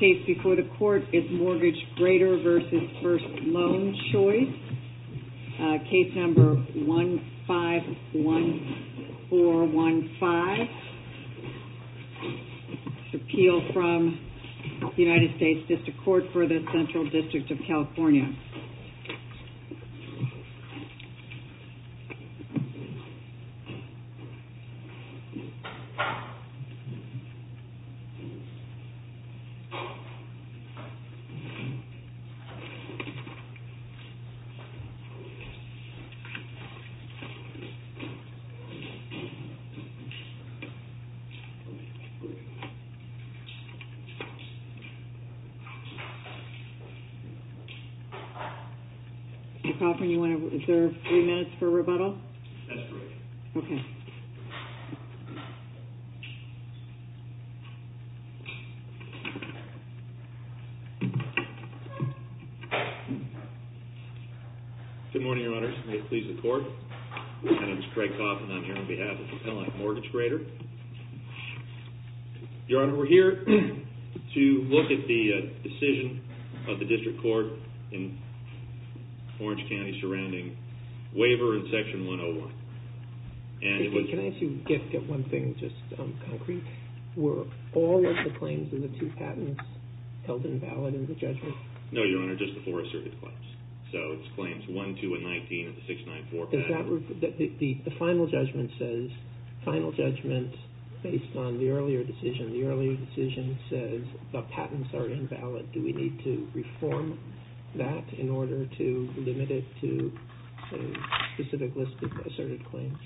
Case before the Court is Mortgage Grader v. First Loan Choice, Case No. 151415, Appeal from the United States District Court for the Central District of California. Mr. Coffman, is there three minutes for rebuttal? That's correct. Okay. Mr. Coffman, is there three minutes for rebuttal? Good morning, Your Honors. May it please the Court. My name is Craig Coffman, and I'm here on behalf of the Appellant Mortgage Grader. Your Honor, we're here to look at the decision of the District Court in Orange County surrounding waiver in Section 101. Can I ask you to get one thing just concrete? Were all of the claims in the two patents held invalid in the judgment? No, Your Honor, just the four asserted claims. So it's claims 1, 2, and 19 of the 694 patent. The final judgment says, final judgment based on the earlier decision, the earlier decision says the patents are invalid. Do we need to reform that in order to limit it to a specific list of asserted claims?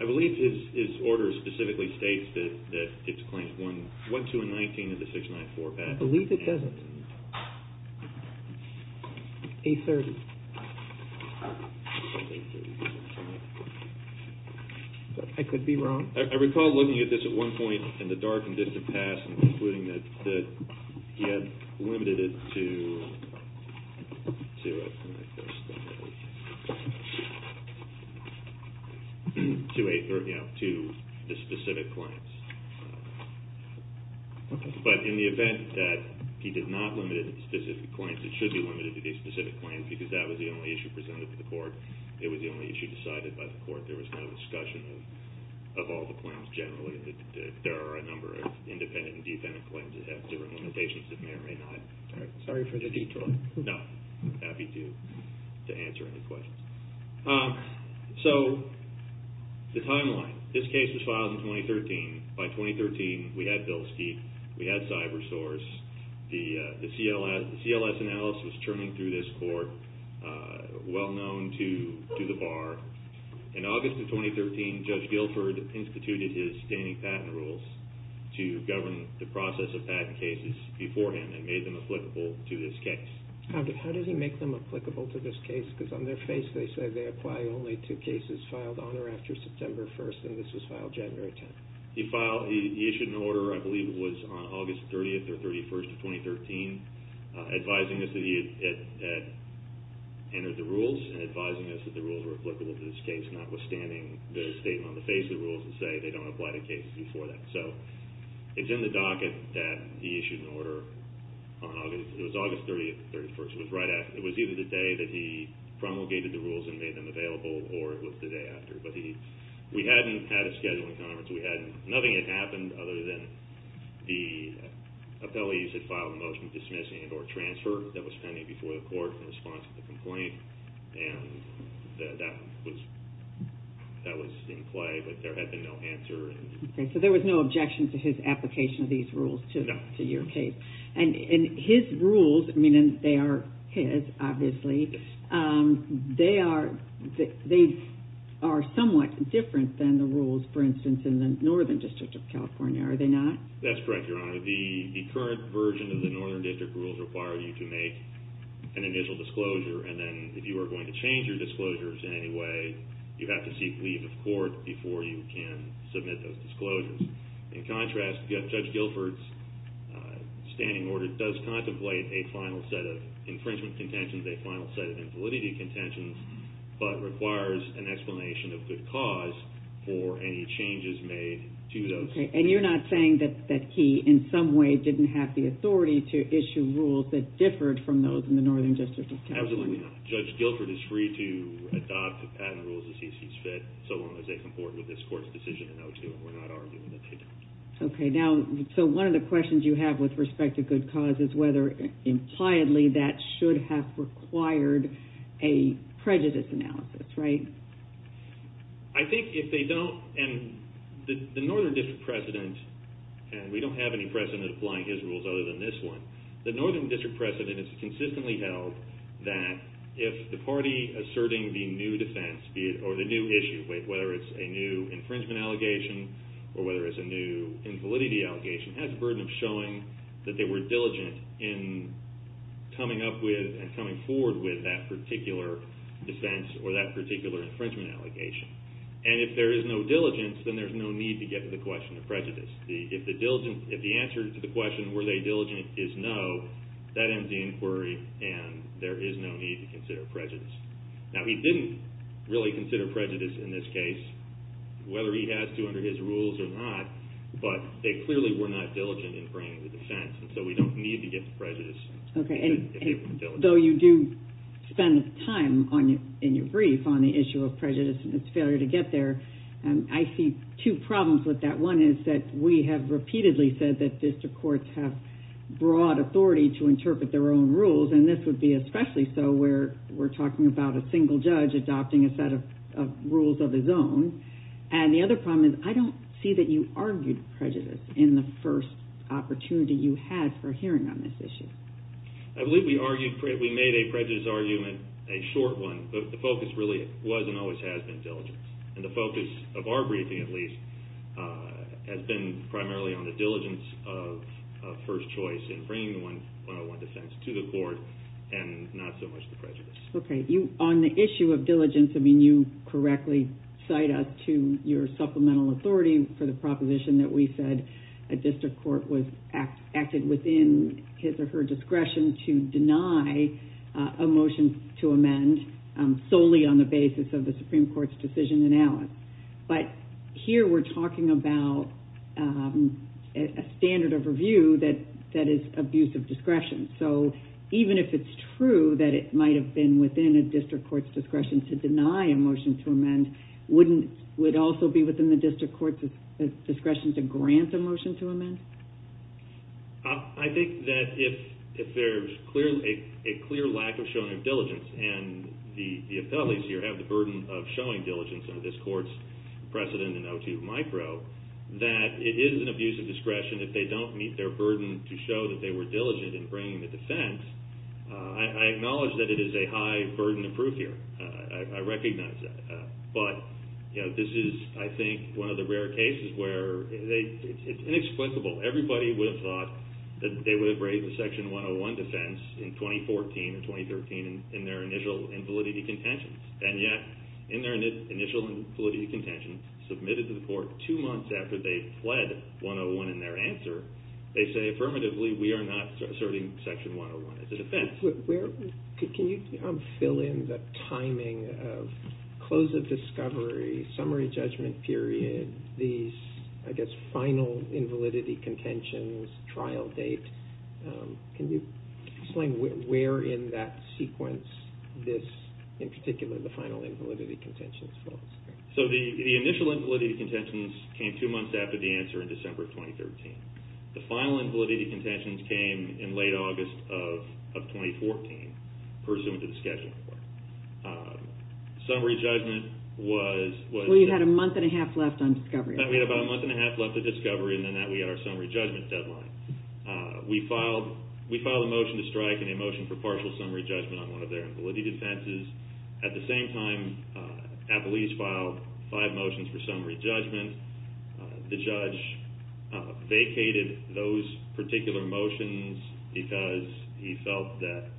I believe his order specifically states that it's claims 1, 2, and 19 of the 694 patent. I believe it doesn't. 830. I could be wrong. I recall looking at this at one point in the dark and distant past and concluding that he had limited it to a specific list of asserted claims. But in the event that he did not limit it to specific claims, it should be limited to the specific claims because that was the only issue presented to the Court. It was the only issue decided by the Court. There was no discussion of all the claims generally. There are a number of independent and defendant claims that have different limitations that may or may not. Sorry for the detour. No, I'm happy to answer any questions. So the timeline. This case was filed in 2013. By 2013, we had Bilstein. We had CyberSource. The CLS analysis was churning through this Court, well known to the Bar. In August of 2013, Judge Guilford instituted his standing patent rules to govern the process of patent cases beforehand and made them applicable to this case. How did he make them applicable to this case? Because on their face they said they apply only to cases filed on or after September 1st and this was filed January 10th. He filed, he issued an order, I believe it was on August 30th or 31st of 2013, advising us that he had entered the rules and advising us that the rules were applicable to this case, notwithstanding the statement on the face of the rules that say they don't apply to cases before that. So it's in the docket that he issued an order on August, it was either the day that he promulgated the rules and made them available or it was the day after. But he, we hadn't had a schedule in conference. We hadn't, nothing had happened other than the appellees had filed a motion dismissing it or transfer that was pending before the Court in response to the complaint and that was, that was in play but there had been no answer. Okay, so there was no objection to his application of these rules to your case. And his rules, I mean they are his obviously, they are, they are somewhat different than the rules for instance in the Northern District of California, are they not? That's correct, Your Honor. The current version of the Northern District rules require you to make an initial disclosure and then if you are going to change your disclosures in any way, you have to seek leave of court before you can submit those disclosures. In contrast, Judge Guilford's standing order does contemplate a final set of infringement contentions, a final set of invalidity contentions, but requires an explanation of good cause for any changes made to those. Okay, and you are not saying that he in some way didn't have the authority to issue rules that differed from those in the Northern District of California? Absolutely not. Judge Guilford is free to adopt the patent rules as he sees fit so long as they comport with this court's decision in O2 and we are not arguing that they don't. Okay, now, so one of the questions you have with respect to good cause is whether impliedly that should have required a prejudice analysis, right? I think if they don't, and the Northern District President, and we don't have any precedent applying his rules other than this one, the Northern District President has consistently held that if the party asserting the new defense or the new issue, whether it's a new infringement allegation or whether it's a new invalidity allegation, has a burden of showing that they were diligent in coming up with and coming forward with that particular defense or that particular infringement allegation. And if there is no diligence, then there's no need to get to the question of prejudice. If the answer to the question, were they diligent, is no, that ends the inquiry and there is no need to consider prejudice. Now, he didn't really consider prejudice in this case, whether he has to under his rules or not, but they clearly were not diligent in bringing the defense and so we don't need to get to prejudice if they weren't diligent. Okay, and though you do spend time in your brief on the issue of prejudice and its failure to get there, I see two problems with that. One is that we have repeatedly said that district courts have broad authority to interpret their own rules and this would be especially so where we're talking about a single judge adopting a set of rules of his own. And the other problem is I don't see that you argued prejudice in the first opportunity you had for hearing on this issue. I believe we made a prejudice argument, a short one, but the focus really was and always has been diligence. And the focus of our briefing, at least, has been primarily on the diligence of first choice in bringing the 101 defense to the court and not so much the prejudice. Okay, on the issue of diligence, I mean, you correctly cite us to your supplemental authority for the proposition that we said a district court was acted within his or her discretion to deny a motion to amend solely on the basis of the Supreme Court's decision in Alice. But here we're talking about a standard of review that is abuse of discretion. So even if it's true that it might have been within a district court's discretion to deny a motion to amend, wouldn't it also be within the district court's discretion to grant a motion to amend? I think that if there's a clear lack of showing of diligence and the appellees here have the highest precedent in O2 micro, that it is an abuse of discretion if they don't meet their burden to show that they were diligent in bringing the defense. I acknowledge that it is a high burden of proof here. I recognize that. But this is, I think, one of the rare cases where it's inexplicable. Everybody would have thought that they would have braved the Section 101 defense in 2014 and 2013 in their initial invalidity contentions. And yet in their initial invalidity contentions submitted to the court two months after they pled 101 in their answer, they say affirmatively we are not asserting Section 101 as a defense. Can you fill in the timing of close of discovery, summary judgment period, these, I guess, final invalidity contentions, trial date? Can you explain where in that sequence this, in particular the final invalidity contentions falls? So the initial invalidity contentions came two months after the answer in December 2013. The final invalidity contentions came in late August of 2014 pursuant to the scheduling court. Summary judgment was... Well, you had a month and a half left on discovery. We had about a month and a half left on discovery and then that we had our summary judgment deadline. We filed a motion to strike and a motion for partial summary judgment on one of the defenses. At the same time, Appellees filed five motions for summary judgment. The judge vacated those particular motions because he felt that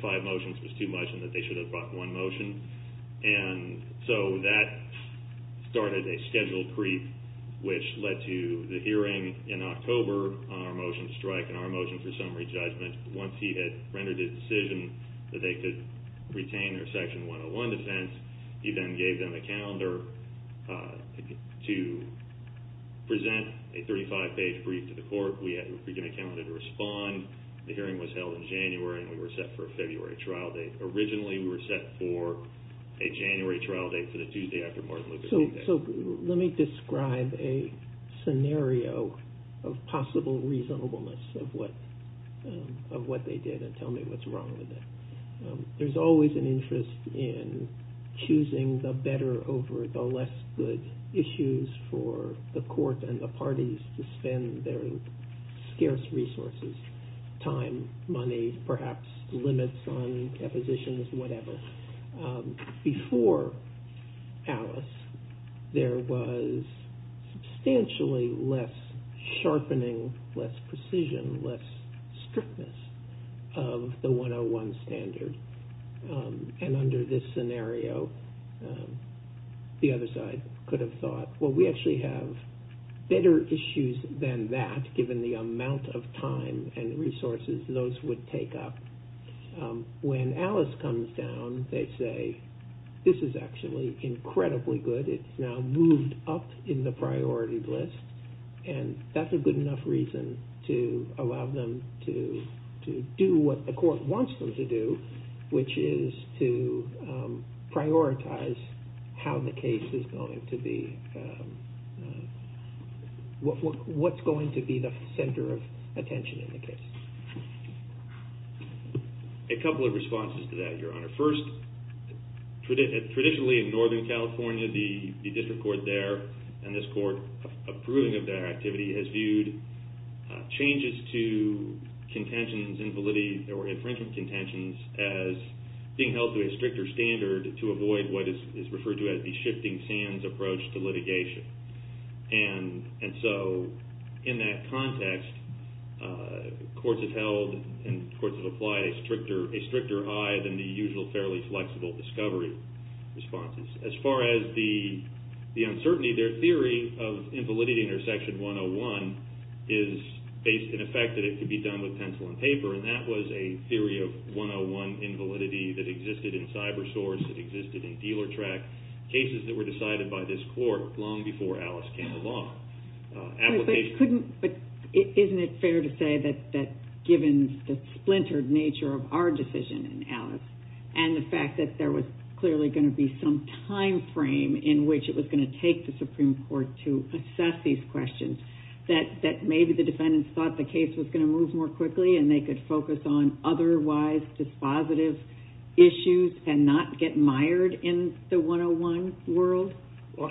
five motions was too much and that they should have brought one motion. And so that started a schedule creep which led to the hearing in October on our motion to strike and our motion for summary judgment once he had rendered a decision that they could retain their Section 101 defense. He then gave them a calendar to present a 35-page brief to the court. We had to bring in a calendar to respond. The hearing was held in January and we were set for a February trial date. Originally, we were set for a January trial date for the Tuesday after Martin Luther King Day. Let me describe a scenario of possible reasonableness of what they did and tell me what's wrong with it. There's always an interest in choosing the better over the less good issues for the court and the parties to spend their scarce resources, time, money, perhaps limits on their resources. There was substantially less sharpening, less precision, less strictness of the 101 standard. And under this scenario, the other side could have thought, well, we actually have better issues than that given the amount of time and resources those would take up. When Alice comes down, they say, this is actually incredibly good. It's now moved up in the priority list and that's a good enough reason to allow them to do what the court wants them to do, which is to prioritize how the case is going to be, what's going to be the center of attention in the case. A couple of responses to that, Your Honor. First, traditionally in Northern California, the district court there and this court approving of their activity has viewed changes to contentions, invalidity or infringement contentions as being held to a stricter standard to avoid what is referred to as the shifting sands approach to litigation. And so in that context, courts have held and courts have applied a stricter high than the usual fairly flexible discovery responses. As far as the uncertainty, their theory of invalidity under Section 101 is based in effect that it could be done with pencil and paper and that was a theory of the dealer track cases that were decided by this court long before Alice came along. Isn't it fair to say that given the splintered nature of our decision in Alice and the fact that there was clearly going to be some time frame in which it was going to take the Supreme Court to assess these questions, that maybe the defendants thought the case was going to move more quickly and they could focus on otherwise dispositive issues and not get tired in the 101 world?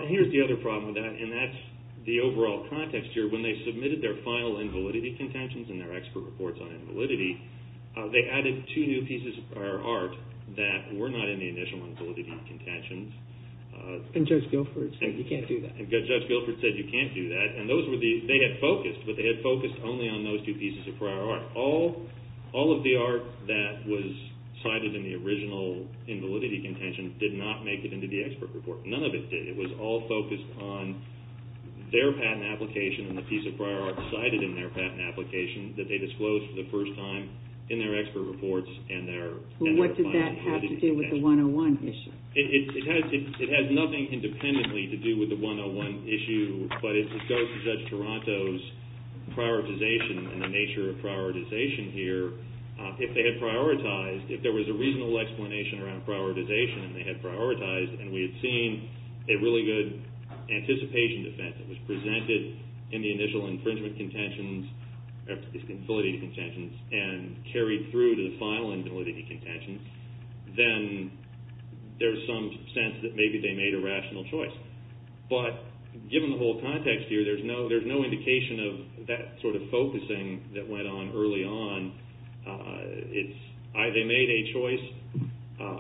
Here's the other problem with that and that's the overall context here. When they submitted their final invalidity contentions and their expert reports on invalidity, they added two new pieces of prior art that were not in the initial invalidity contentions. And Judge Guilford said you can't do that. And Judge Guilford said you can't do that. They had focused, but they had focused only on those two pieces of prior art. All of the art that was cited in the original invalidity contentions did not make it into the expert report. None of it did. It was all focused on their patent application and the piece of prior art cited in their patent application that they disclosed for the first time in their expert reports and their final invalidity contentions. What does that have to do with the 101 issue? It has nothing independently to do with the 101 issue, but it goes to Judge Taranto's prioritization and the nature of prioritization here. If they had prioritized, if there was a reasonable explanation around prioritization and they had prioritized and we had seen a really good anticipation defense that was presented in the initial infringement contentions, or these invalidity contentions, and carried through to the final invalidity contentions, then there's some sense that maybe they made a rational choice. But given the whole context here, there's no indication of that sort of focusing that choice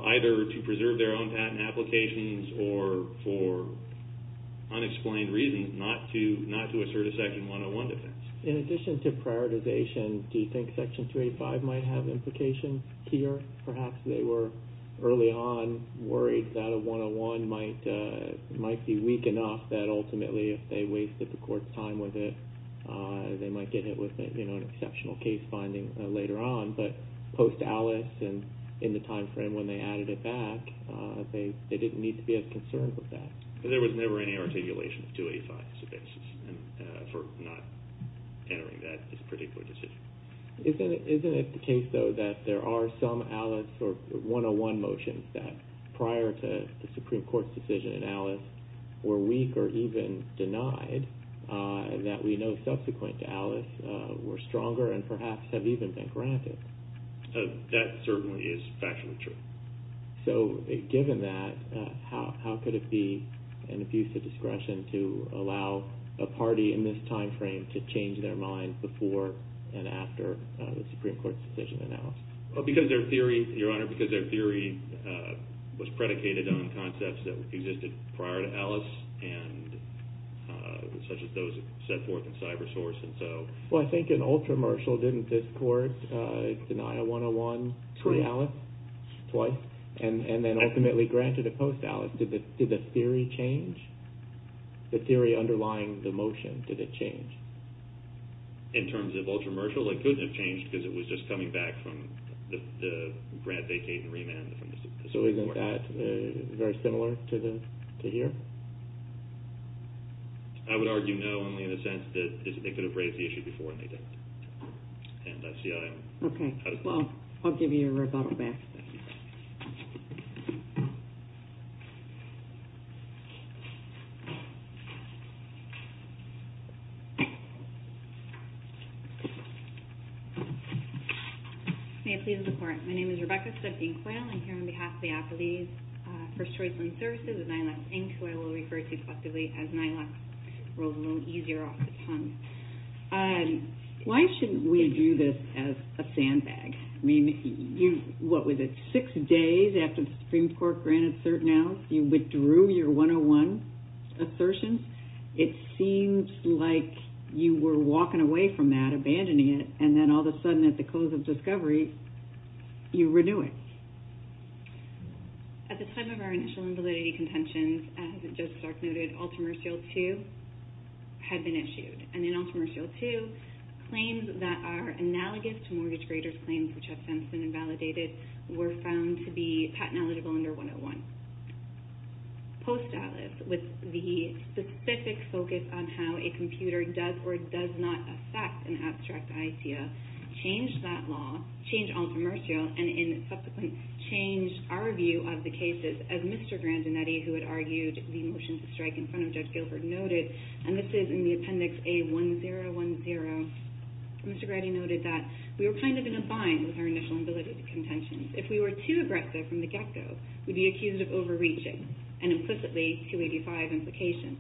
either to preserve their own patent applications or for unexplained reasons not to assert a Section 101 defense. In addition to prioritization, do you think Section 285 might have implications here? Perhaps they were early on worried that a 101 might be weak enough that ultimately if they wasted the court's time with it, they might get hit with an exceptional case finding later on, but post-Alice and in the time frame when they added it back, they didn't need to be as concerned with that. There was never any articulation of 285 as a basis for not entering that particular decision. Isn't it the case, though, that there are some Alice or 101 motions that prior to the Supreme Court's decision in Alice were weak or even denied that we know subsequent to That certainly is factually true. So given that, how could it be an abuse of discretion to allow a party in this time frame to change their mind before and after the Supreme Court's decision in Alice? Because their theory, Your Honor, because their theory was predicated on concepts that existed prior to Alice and such as those set forth in CyberSource. Well, I think in Ultra-Marshall, didn't this court deny a 101 to Alice? Twice. Twice? And then ultimately granted it post-Alice. Did the theory change? The theory underlying the motion, did it change? In terms of Ultra-Marshall, it couldn't have changed because it was just coming back from the grant vacate and remand from the Supreme Court. So isn't that very similar to here? I would argue no, only in the sense that they could have raised the issue before and they didn't. And that's the idea. Okay. Well, I'll give you a rebuttal back. Thank you. May it please the Court. My name is Rebecca Steffink-Coyle. I'm here on behalf of the appellees. First Choice Lend Services and NILAC Inc. who I will refer to collectively as NILAC rolls a little easier off the tongue. Why shouldn't we do this as a sandbag? I mean, what was it, six days after the Supreme Court granted cert now, you withdrew your 101 assertion. It seems like you were walking away from that, abandoning it, and then all of a sudden at the close of discovery, you renew it. At the time of our initial invalidity contentions, as Justice Stark noted, Ultramercial 2 had been issued. And in Ultramercial 2, claims that are analogous to mortgage graders' claims which have since been invalidated were found to be patent eligible under 101. Post-Atlas, with the specific focus on how a computer does or does not affect an abstract idea, changed that law, changed Ultramercial, and in subsequent changed our view of the cases as Mr. Grandinetti, who had argued the motion to strike in front of Judge Gilbert, noted, and this is in the appendix A1010, Mr. Grandinetti noted that we were kind of in a bind with our initial invalidity contentions. If we were too aggressive from the get-go, we'd be accused of overreaching and implicitly 285 implications.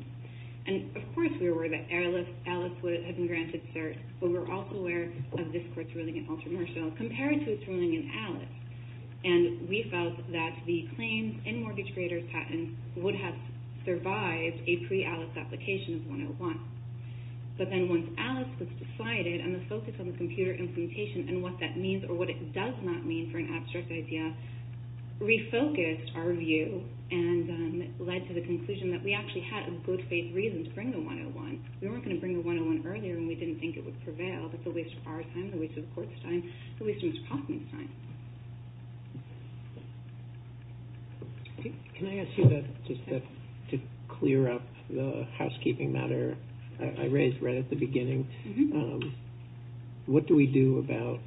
And of course we were worried that Atlas would have been granted cert, but we're also aware of this Court's ruling in Ultramercial compared to its ruling in Atlas. And we felt that the claims in mortgage graders' patents would have survived a pre-Atlas application of 101. But then once Atlas was decided and the focus on the computer implementation and what that means or what it does not mean for an abstract idea, refocused our view and led to the conclusion that we actually had a good faith reason to bring the 101. We weren't going to bring the 101 earlier when we didn't think it would prevail. That's a waste of our time, a waste of the Court's time, a waste of Mr. Kaufman's time. Can I ask you that, just to clear up the housekeeping matter I raised right at the beginning, what do we do about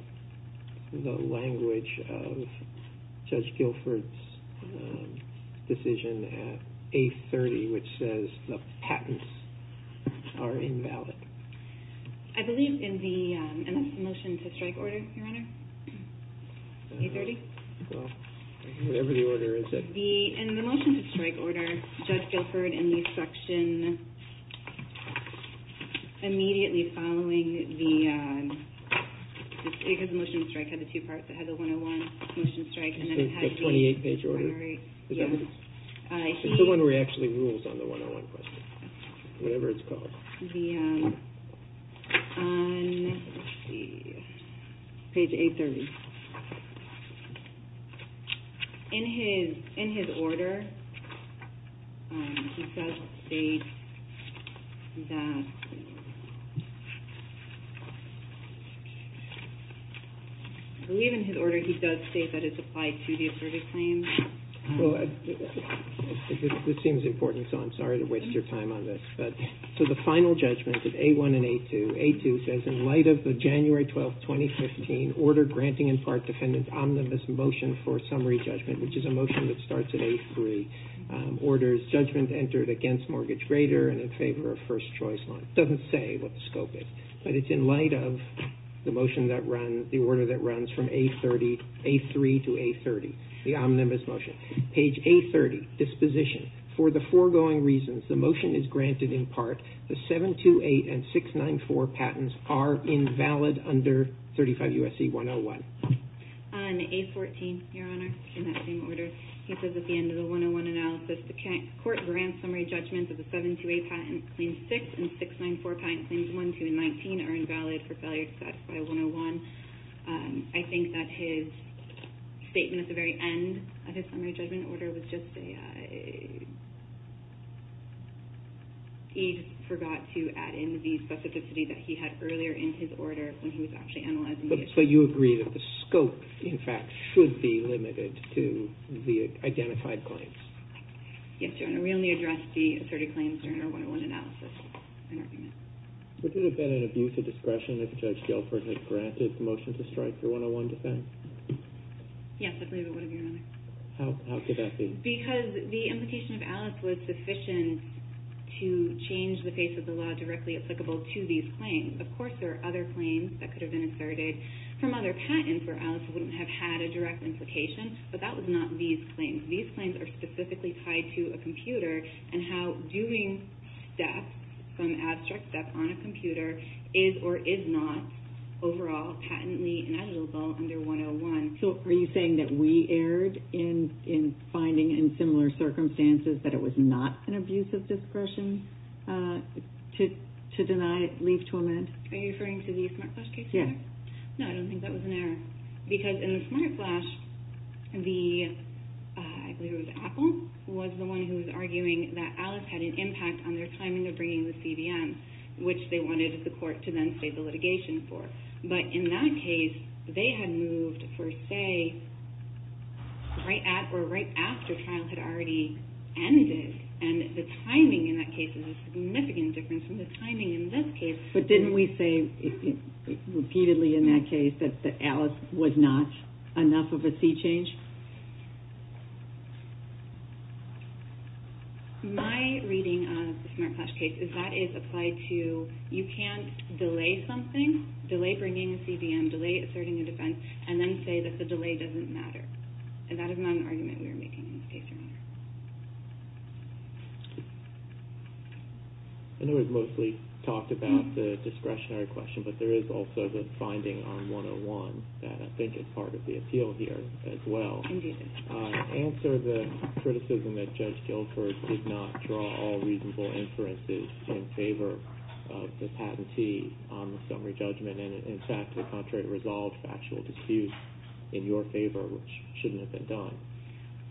the language of Judge Guilford's decision at A30 which says the patents are invalid? I believe in the motion to strike order, Your Honor, A30. Well, whatever the order is. In the motion to strike order, Judge Guilford in the section immediately following the, his motion to strike had the two parts, it had the 101 motion to strike and then it had the... The 28-page order. Yeah. It's the one where he actually rules on the 101 question, whatever it's called. On page A30, in his order, he does state that, I believe in his order he does state that it's applied to the asserted claims. This seems important, so I'm sorry to waste your time on this. So the final judgment of A1 and A2, A2 says in light of the January 12th, 2015, order granting in part defendant's omnibus motion for summary judgment, which is a motion that starts at A3, orders judgment entered against Mortgage Grader and in favor of First Choice Law. It doesn't say what the scope is, but it's in light of the motion that runs, the order that runs from A30, A3 to A30. The omnibus motion. Page A30, disposition. For the foregoing reasons, the motion is granted in part. The 728 and 694 patents are invalid under 35 U.S.C. 101. On A14, Your Honor, in that same order, he says at the end of the 101 analysis, the court grants summary judgment that the 728 patent claims 6 and 694 patent claims 1, 2, and 19 are invalid for failure to satisfy 101. I think that his statement at the very end of his summary judgment order was just a, he forgot to add in the specificity that he had earlier in his order when he was actually analyzing the issue. But you agree that the scope, in fact, should be limited to the identified claims? Yes, Your Honor. We only addressed the asserted claims during our 101 analysis. Would it have been an abuse of discretion if Judge Guilford had granted the motion to strike the 101 defense? Yes, I believe it would have, Your Honor. How could that be? Because the implication of Alice was sufficient to change the face of the law directly applicable to these claims. Of course, there are other claims that could have been asserted from other patents where Alice wouldn't have had a direct implication, but that was not these claims. These claims are specifically tied to a computer and how doing steps, some abstract steps on a computer, is or is not overall patently ineligible under 101. So are you saying that we erred in finding in similar circumstances that it was not an abuse of discretion to deny, leave to amend? Are you referring to the SmartFlash case? Yes. No, I don't think that was an error because in the SmartFlash, the, I believe it was Apple, was the one who was arguing that Alice had an impact on their timing of bringing the CVM, which they wanted the court to then save the litigation for. But in that case, they had moved for, say, right at or right after trial had already ended, and the timing in that case is a significant difference from the timing in this case. But didn't we say repeatedly in that case that Alice was not enough of a sea change? My reading of the SmartFlash case is that is applied to you can't delay something, delay bringing a CVM, delay asserting a defense, and then say that the delay doesn't matter. And that is not an argument we were making in this case. I know it was mostly talked about the discretionary question, but there is also the finding on 101 that I think is part of the appeal here as well. Indeed. Answer the criticism that Judge Gilkirk did not draw all reasonable inferences in favor of the patentee on the summary judgment, and in fact, to the contrary, resolved factual disputes in your favor, which shouldn't have been done.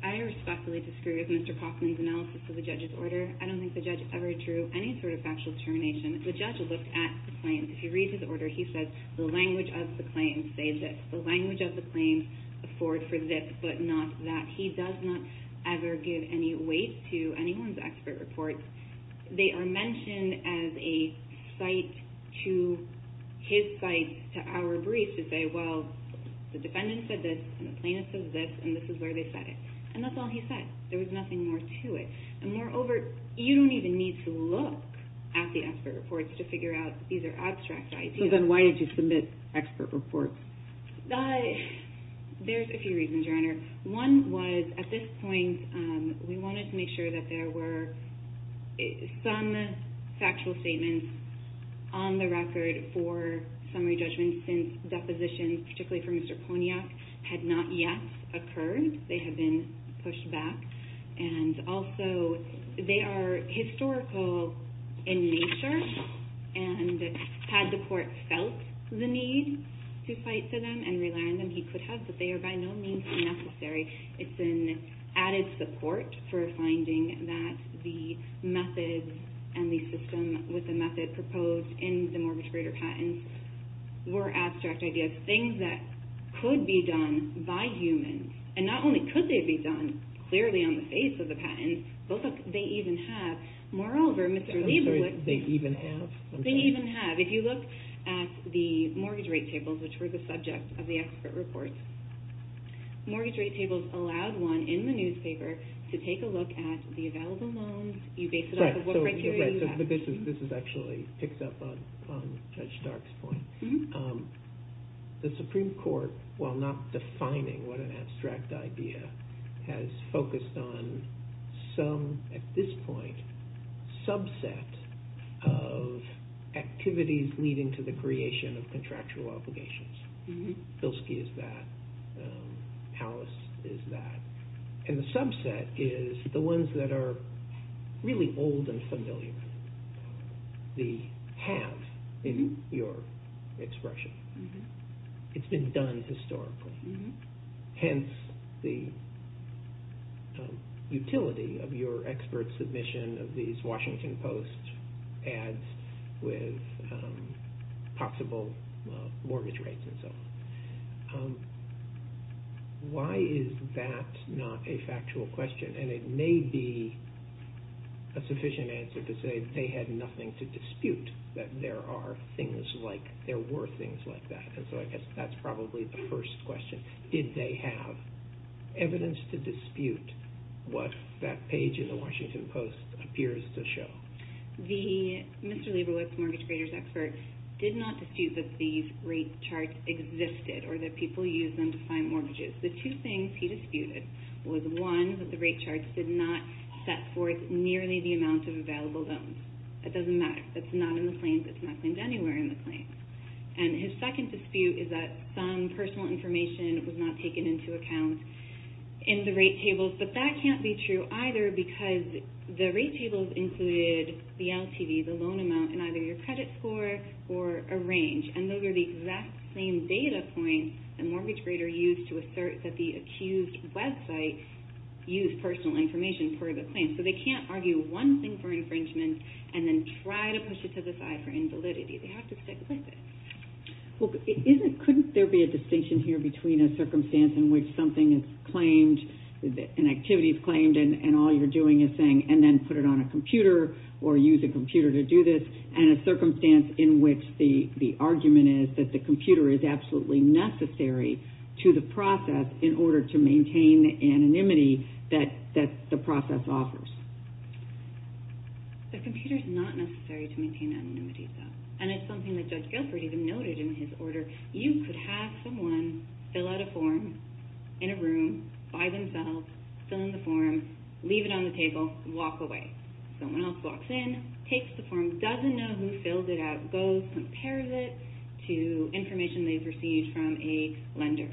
I respectfully disagree with Mr. Kaufman's analysis of the judge's order. I don't think the judge ever drew any sort of factual determination. The judge looked at the claims. If you read his order, he says the language of the claims say this. The language of the claims afford for this, but not that. He does not ever give any weight to anyone's expert reports. They are mentioned as a cite to his cite to our brief to say, well, the defendant said this, and the plaintiff said this, and this is where they said it. And that's all he said. There was nothing more to it. And moreover, you don't even need to look at the expert reports to figure out these are abstract ideas. So then why did you submit expert reports? There's a few reasons, Your Honor. One was, at this point, we wanted to make sure that there were some factual statements on the record for summary judgment since depositions, particularly for Mr. Poniak, had not yet occurred. They have been pushed back. And also, they are historical in nature, and had the court felt the need to cite to them and rely on them, he could have, but they are by no means necessary. It's been added support for finding that the methods and the system with the method proposed in the mortgage grader patents were abstract ideas, things that could be done by humans. And not only could they be done clearly on the face of the patents, but they even have. Moreover, Mr. Lieber... I'm sorry. They even have? They even have. If you look at the mortgage rate tables, which were the subject of the expert reports, mortgage rate tables allowed one in the newspaper to take a look at the available loans. You base it off of what criteria you have. This actually picks up on Judge Stark's point. The Supreme Court, while not defining what an abstract idea, has focused on some, at this point, subset of activities leading to the creation of contractual obligations. Filski is that. Howis is that. And the subset is the ones that are really old and familiar. The have in your expression. It's been done historically. Hence the utility of your expert submission of these Washington Post ads with possible mortgage rates and so on. Why is that not a factual question? And it may be a sufficient answer to say they had nothing to dispute, that there were things like that. And so I guess that's probably the first question. Did they have evidence to dispute what that page in the Washington Post appears to show? The Mr. Leibowitz mortgage raters expert did not dispute that these rate charts existed or that people used them to find mortgages. The two things he disputed was, one, that the rate charts did not set forth nearly the amount of available loans. That doesn't matter. That's not in the claims. It's not claimed anywhere in the claims. And his second dispute is that some personal information was not taken into account in the rate tables. But that can't be true either because the rate tables included the LTV, the loan amount, and either your credit score or a range. And those are the exact same data points that a mortgage grader used to assert that the accused website used personal information for the claim. So they can't argue one thing for infringement and then try to push it to the side for invalidity. They have to stick with it. Well, couldn't there be a distinction here between a circumstance in which something is claimed, an activity is claimed, and all you're doing is saying, and then put it on a computer or use a computer to do this, and a circumstance in which the argument is that the computer is absolutely necessary to the process in order to maintain anonymity that the process offers? The computer is not necessary to maintain anonymity, though. And it's something that Judge Gilford even noted in his order. You could have someone fill out a form in a room by themselves, fill in the form, leave it on the table, walk away. Someone else walks in, takes the form, doesn't know who filled it out, goes, compares it to information they've received from a lender,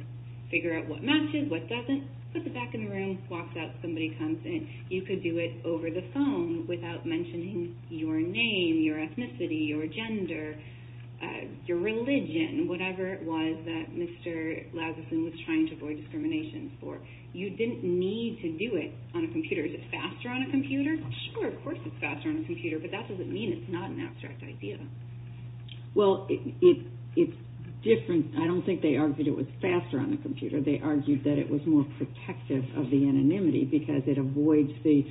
figure out what matches, what doesn't, puts it back in the room, walks out, somebody comes in. You could do it over the phone without mentioning your name, your ethnicity, your gender, your religion, whatever it was that Mr. Lazuson was trying to avoid discrimination for. You didn't need to do it on a computer. Is it faster on a computer? Sure, of course it's faster on a computer, but that doesn't mean it's not an abstract idea. Well, it's different. I don't think they argued it was faster on a computer. They argued that it was more protective of the anonymity because it avoids the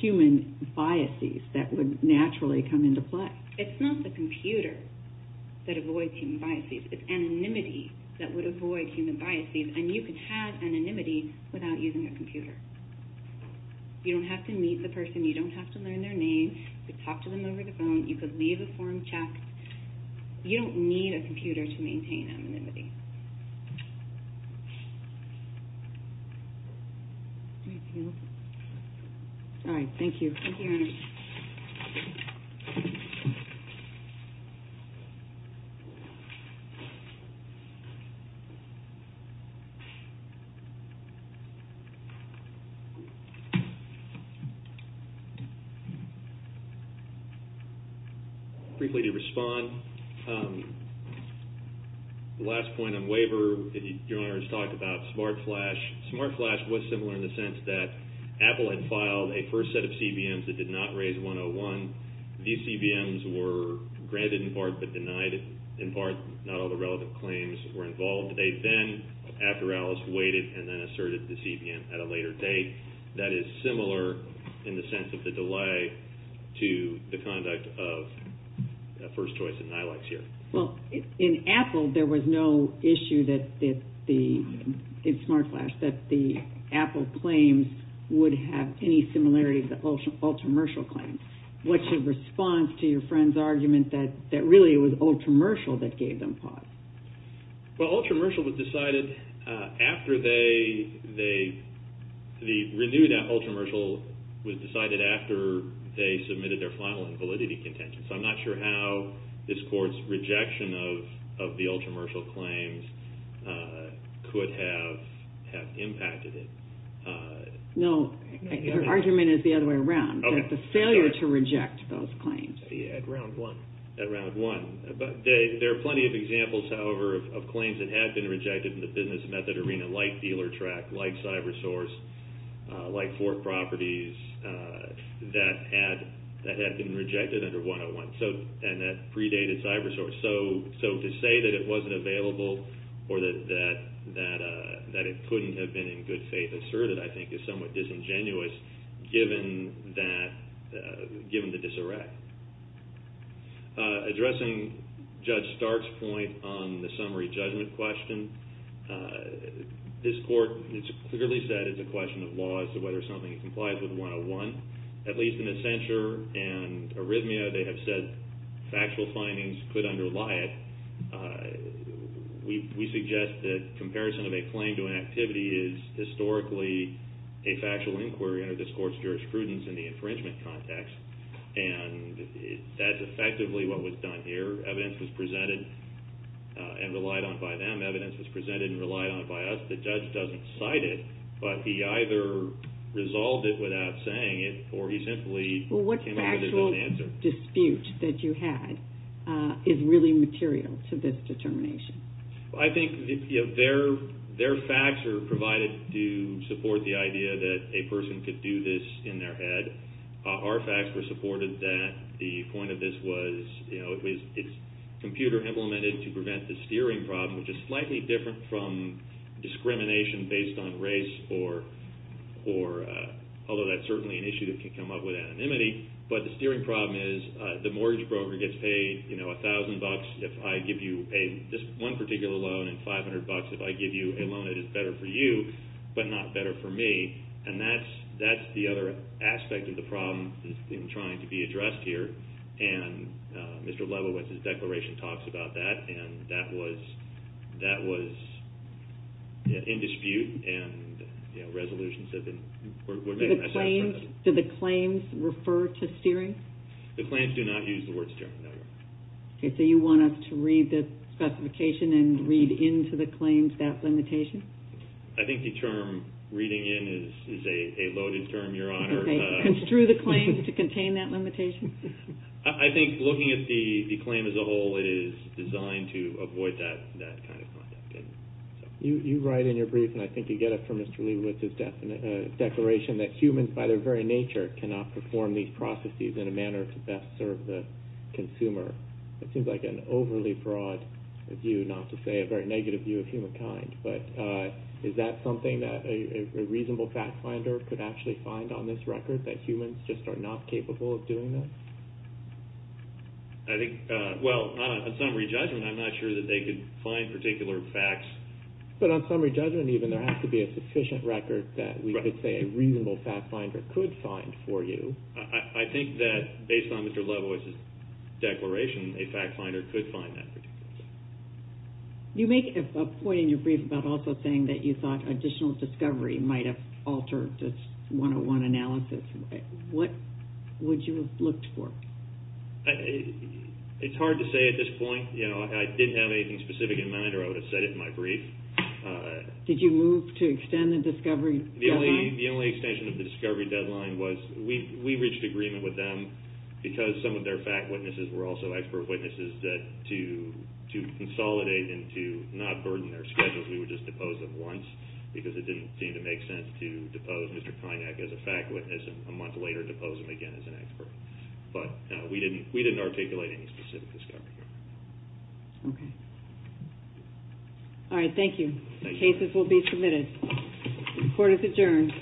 human biases that would naturally come into play. It's not the computer that avoids human biases. It's anonymity that would avoid human biases, and you could have anonymity without using a computer. You don't have to meet the person. You don't have to learn their name. You could talk to them over the phone. You could leave a form checked. You don't need a computer to maintain anonymity. All right, thank you. Thank you, Your Honor. Briefly to respond, the last point on waiver, Your Honor has talked about SmartFlash. SmartFlash was similar in the sense that Apple had filed a first set of CBMs that did not raise 101. These CBMs were granted in part but denied in part. Not all the relevant claims were involved. They then, after Alice, waited and then asserted the CBM at a later date. That is similar in the sense of the delay to the conduct of first choice and NILACs here. Well, in Apple, there was no issue that the, in SmartFlash, that the Apple claims would have any similarity to the Ultramershal claims. What's your response to your friend's argument that really it was Ultramershal that gave them pause? Well, Ultramershal was decided after they, the renewed Ultramershal was decided after they submitted their final invalidity contention. So I'm not sure how this court's rejection of the Ultramershal claims could have impacted it. No, your argument is the other way around. Okay. The failure to reject those claims. At round one. At round one. There are plenty of examples, however, of claims that had been rejected in the business method arena, like DealerTrack, like CyberSource, like Fork Properties, that had been rejected under 101 and that predated CyberSource. So to say that it wasn't available or that it couldn't have been in good faith asserted, I think, is somewhat disingenuous given that, given the disarray. Addressing Judge Stark's point on the summary judgment question, this court has clearly said it's a question of law as to whether something complies with 101. At least in the censure and arrhythmia, they have said factual findings could underlie it. We suggest that comparison of a claim to an activity is historically a factual inquiry under this court's jurisprudence in the infringement context. And that's effectively what was done here. Evidence was presented and relied on by them. Evidence was presented and relied on by us. The judge doesn't cite it, but he either resolved it without saying it or he simply came up with his own answer. Well, what factual dispute that you had is really material to this determination? I think their facts are provided to support the idea that a person could do this in their head. Our facts were supported that the point of this was, you know, it's computer implemented to prevent the steering problem, which is slightly different from discrimination based on race, although that's certainly an issue that can come up with anonymity. But the steering problem is the mortgage broker gets paid, you know, $1,000. If I give you just one particular loan and $500, if I give you a loan, it is better for you, but not better for me. And that's the other aspect of the problem in trying to be addressed here. And Mr. Lebowitz's declaration talks about that, and that was in dispute, and resolutions have been made. Do the claims refer to steering? The claims do not use the word steering, no. Okay, so you want us to read the specification and read into the claims that limitation? I think the term reading in is a loaded term, Your Honor. Okay, construe the claim to contain that limitation? I think looking at the claim as a whole, it is designed to avoid that kind of content. You write in your brief, and I think you get it from Mr. Lebowitz's declaration, that humans by their very nature cannot perform these processes in a manner to best serve the consumer. It seems like an overly broad view, not to say a very negative view of humankind. But is that something that a reasonable fact finder could actually find on this record, that humans just are not capable of doing this? I think, well, on summary judgment, I'm not sure that they could find particular facts. But on summary judgment even, there has to be a sufficient record that we could say a reasonable fact finder could find for you. I think that based on Mr. Lebowitz's declaration, a fact finder could find that particular fact. You make a point in your brief about also saying that you thought additional discovery might have altered this 101 analysis. What would you have looked for? It's hard to say at this point. I didn't have anything specific in mind, or I would have said it in my brief. Did you move to extend the discovery deadline? The only extension of the discovery deadline was we reached agreement with them, because some of their fact witnesses were also expert witnesses, that to consolidate and to not burden their schedules, we would just depose them once, because it didn't seem to make sense to depose Mr. Kainak as a fact witness, and then a month later depose him again as an expert. But we didn't articulate any specific discovery. Okay. All right, thank you. Thank you. Cases will be submitted. Court is adjourned.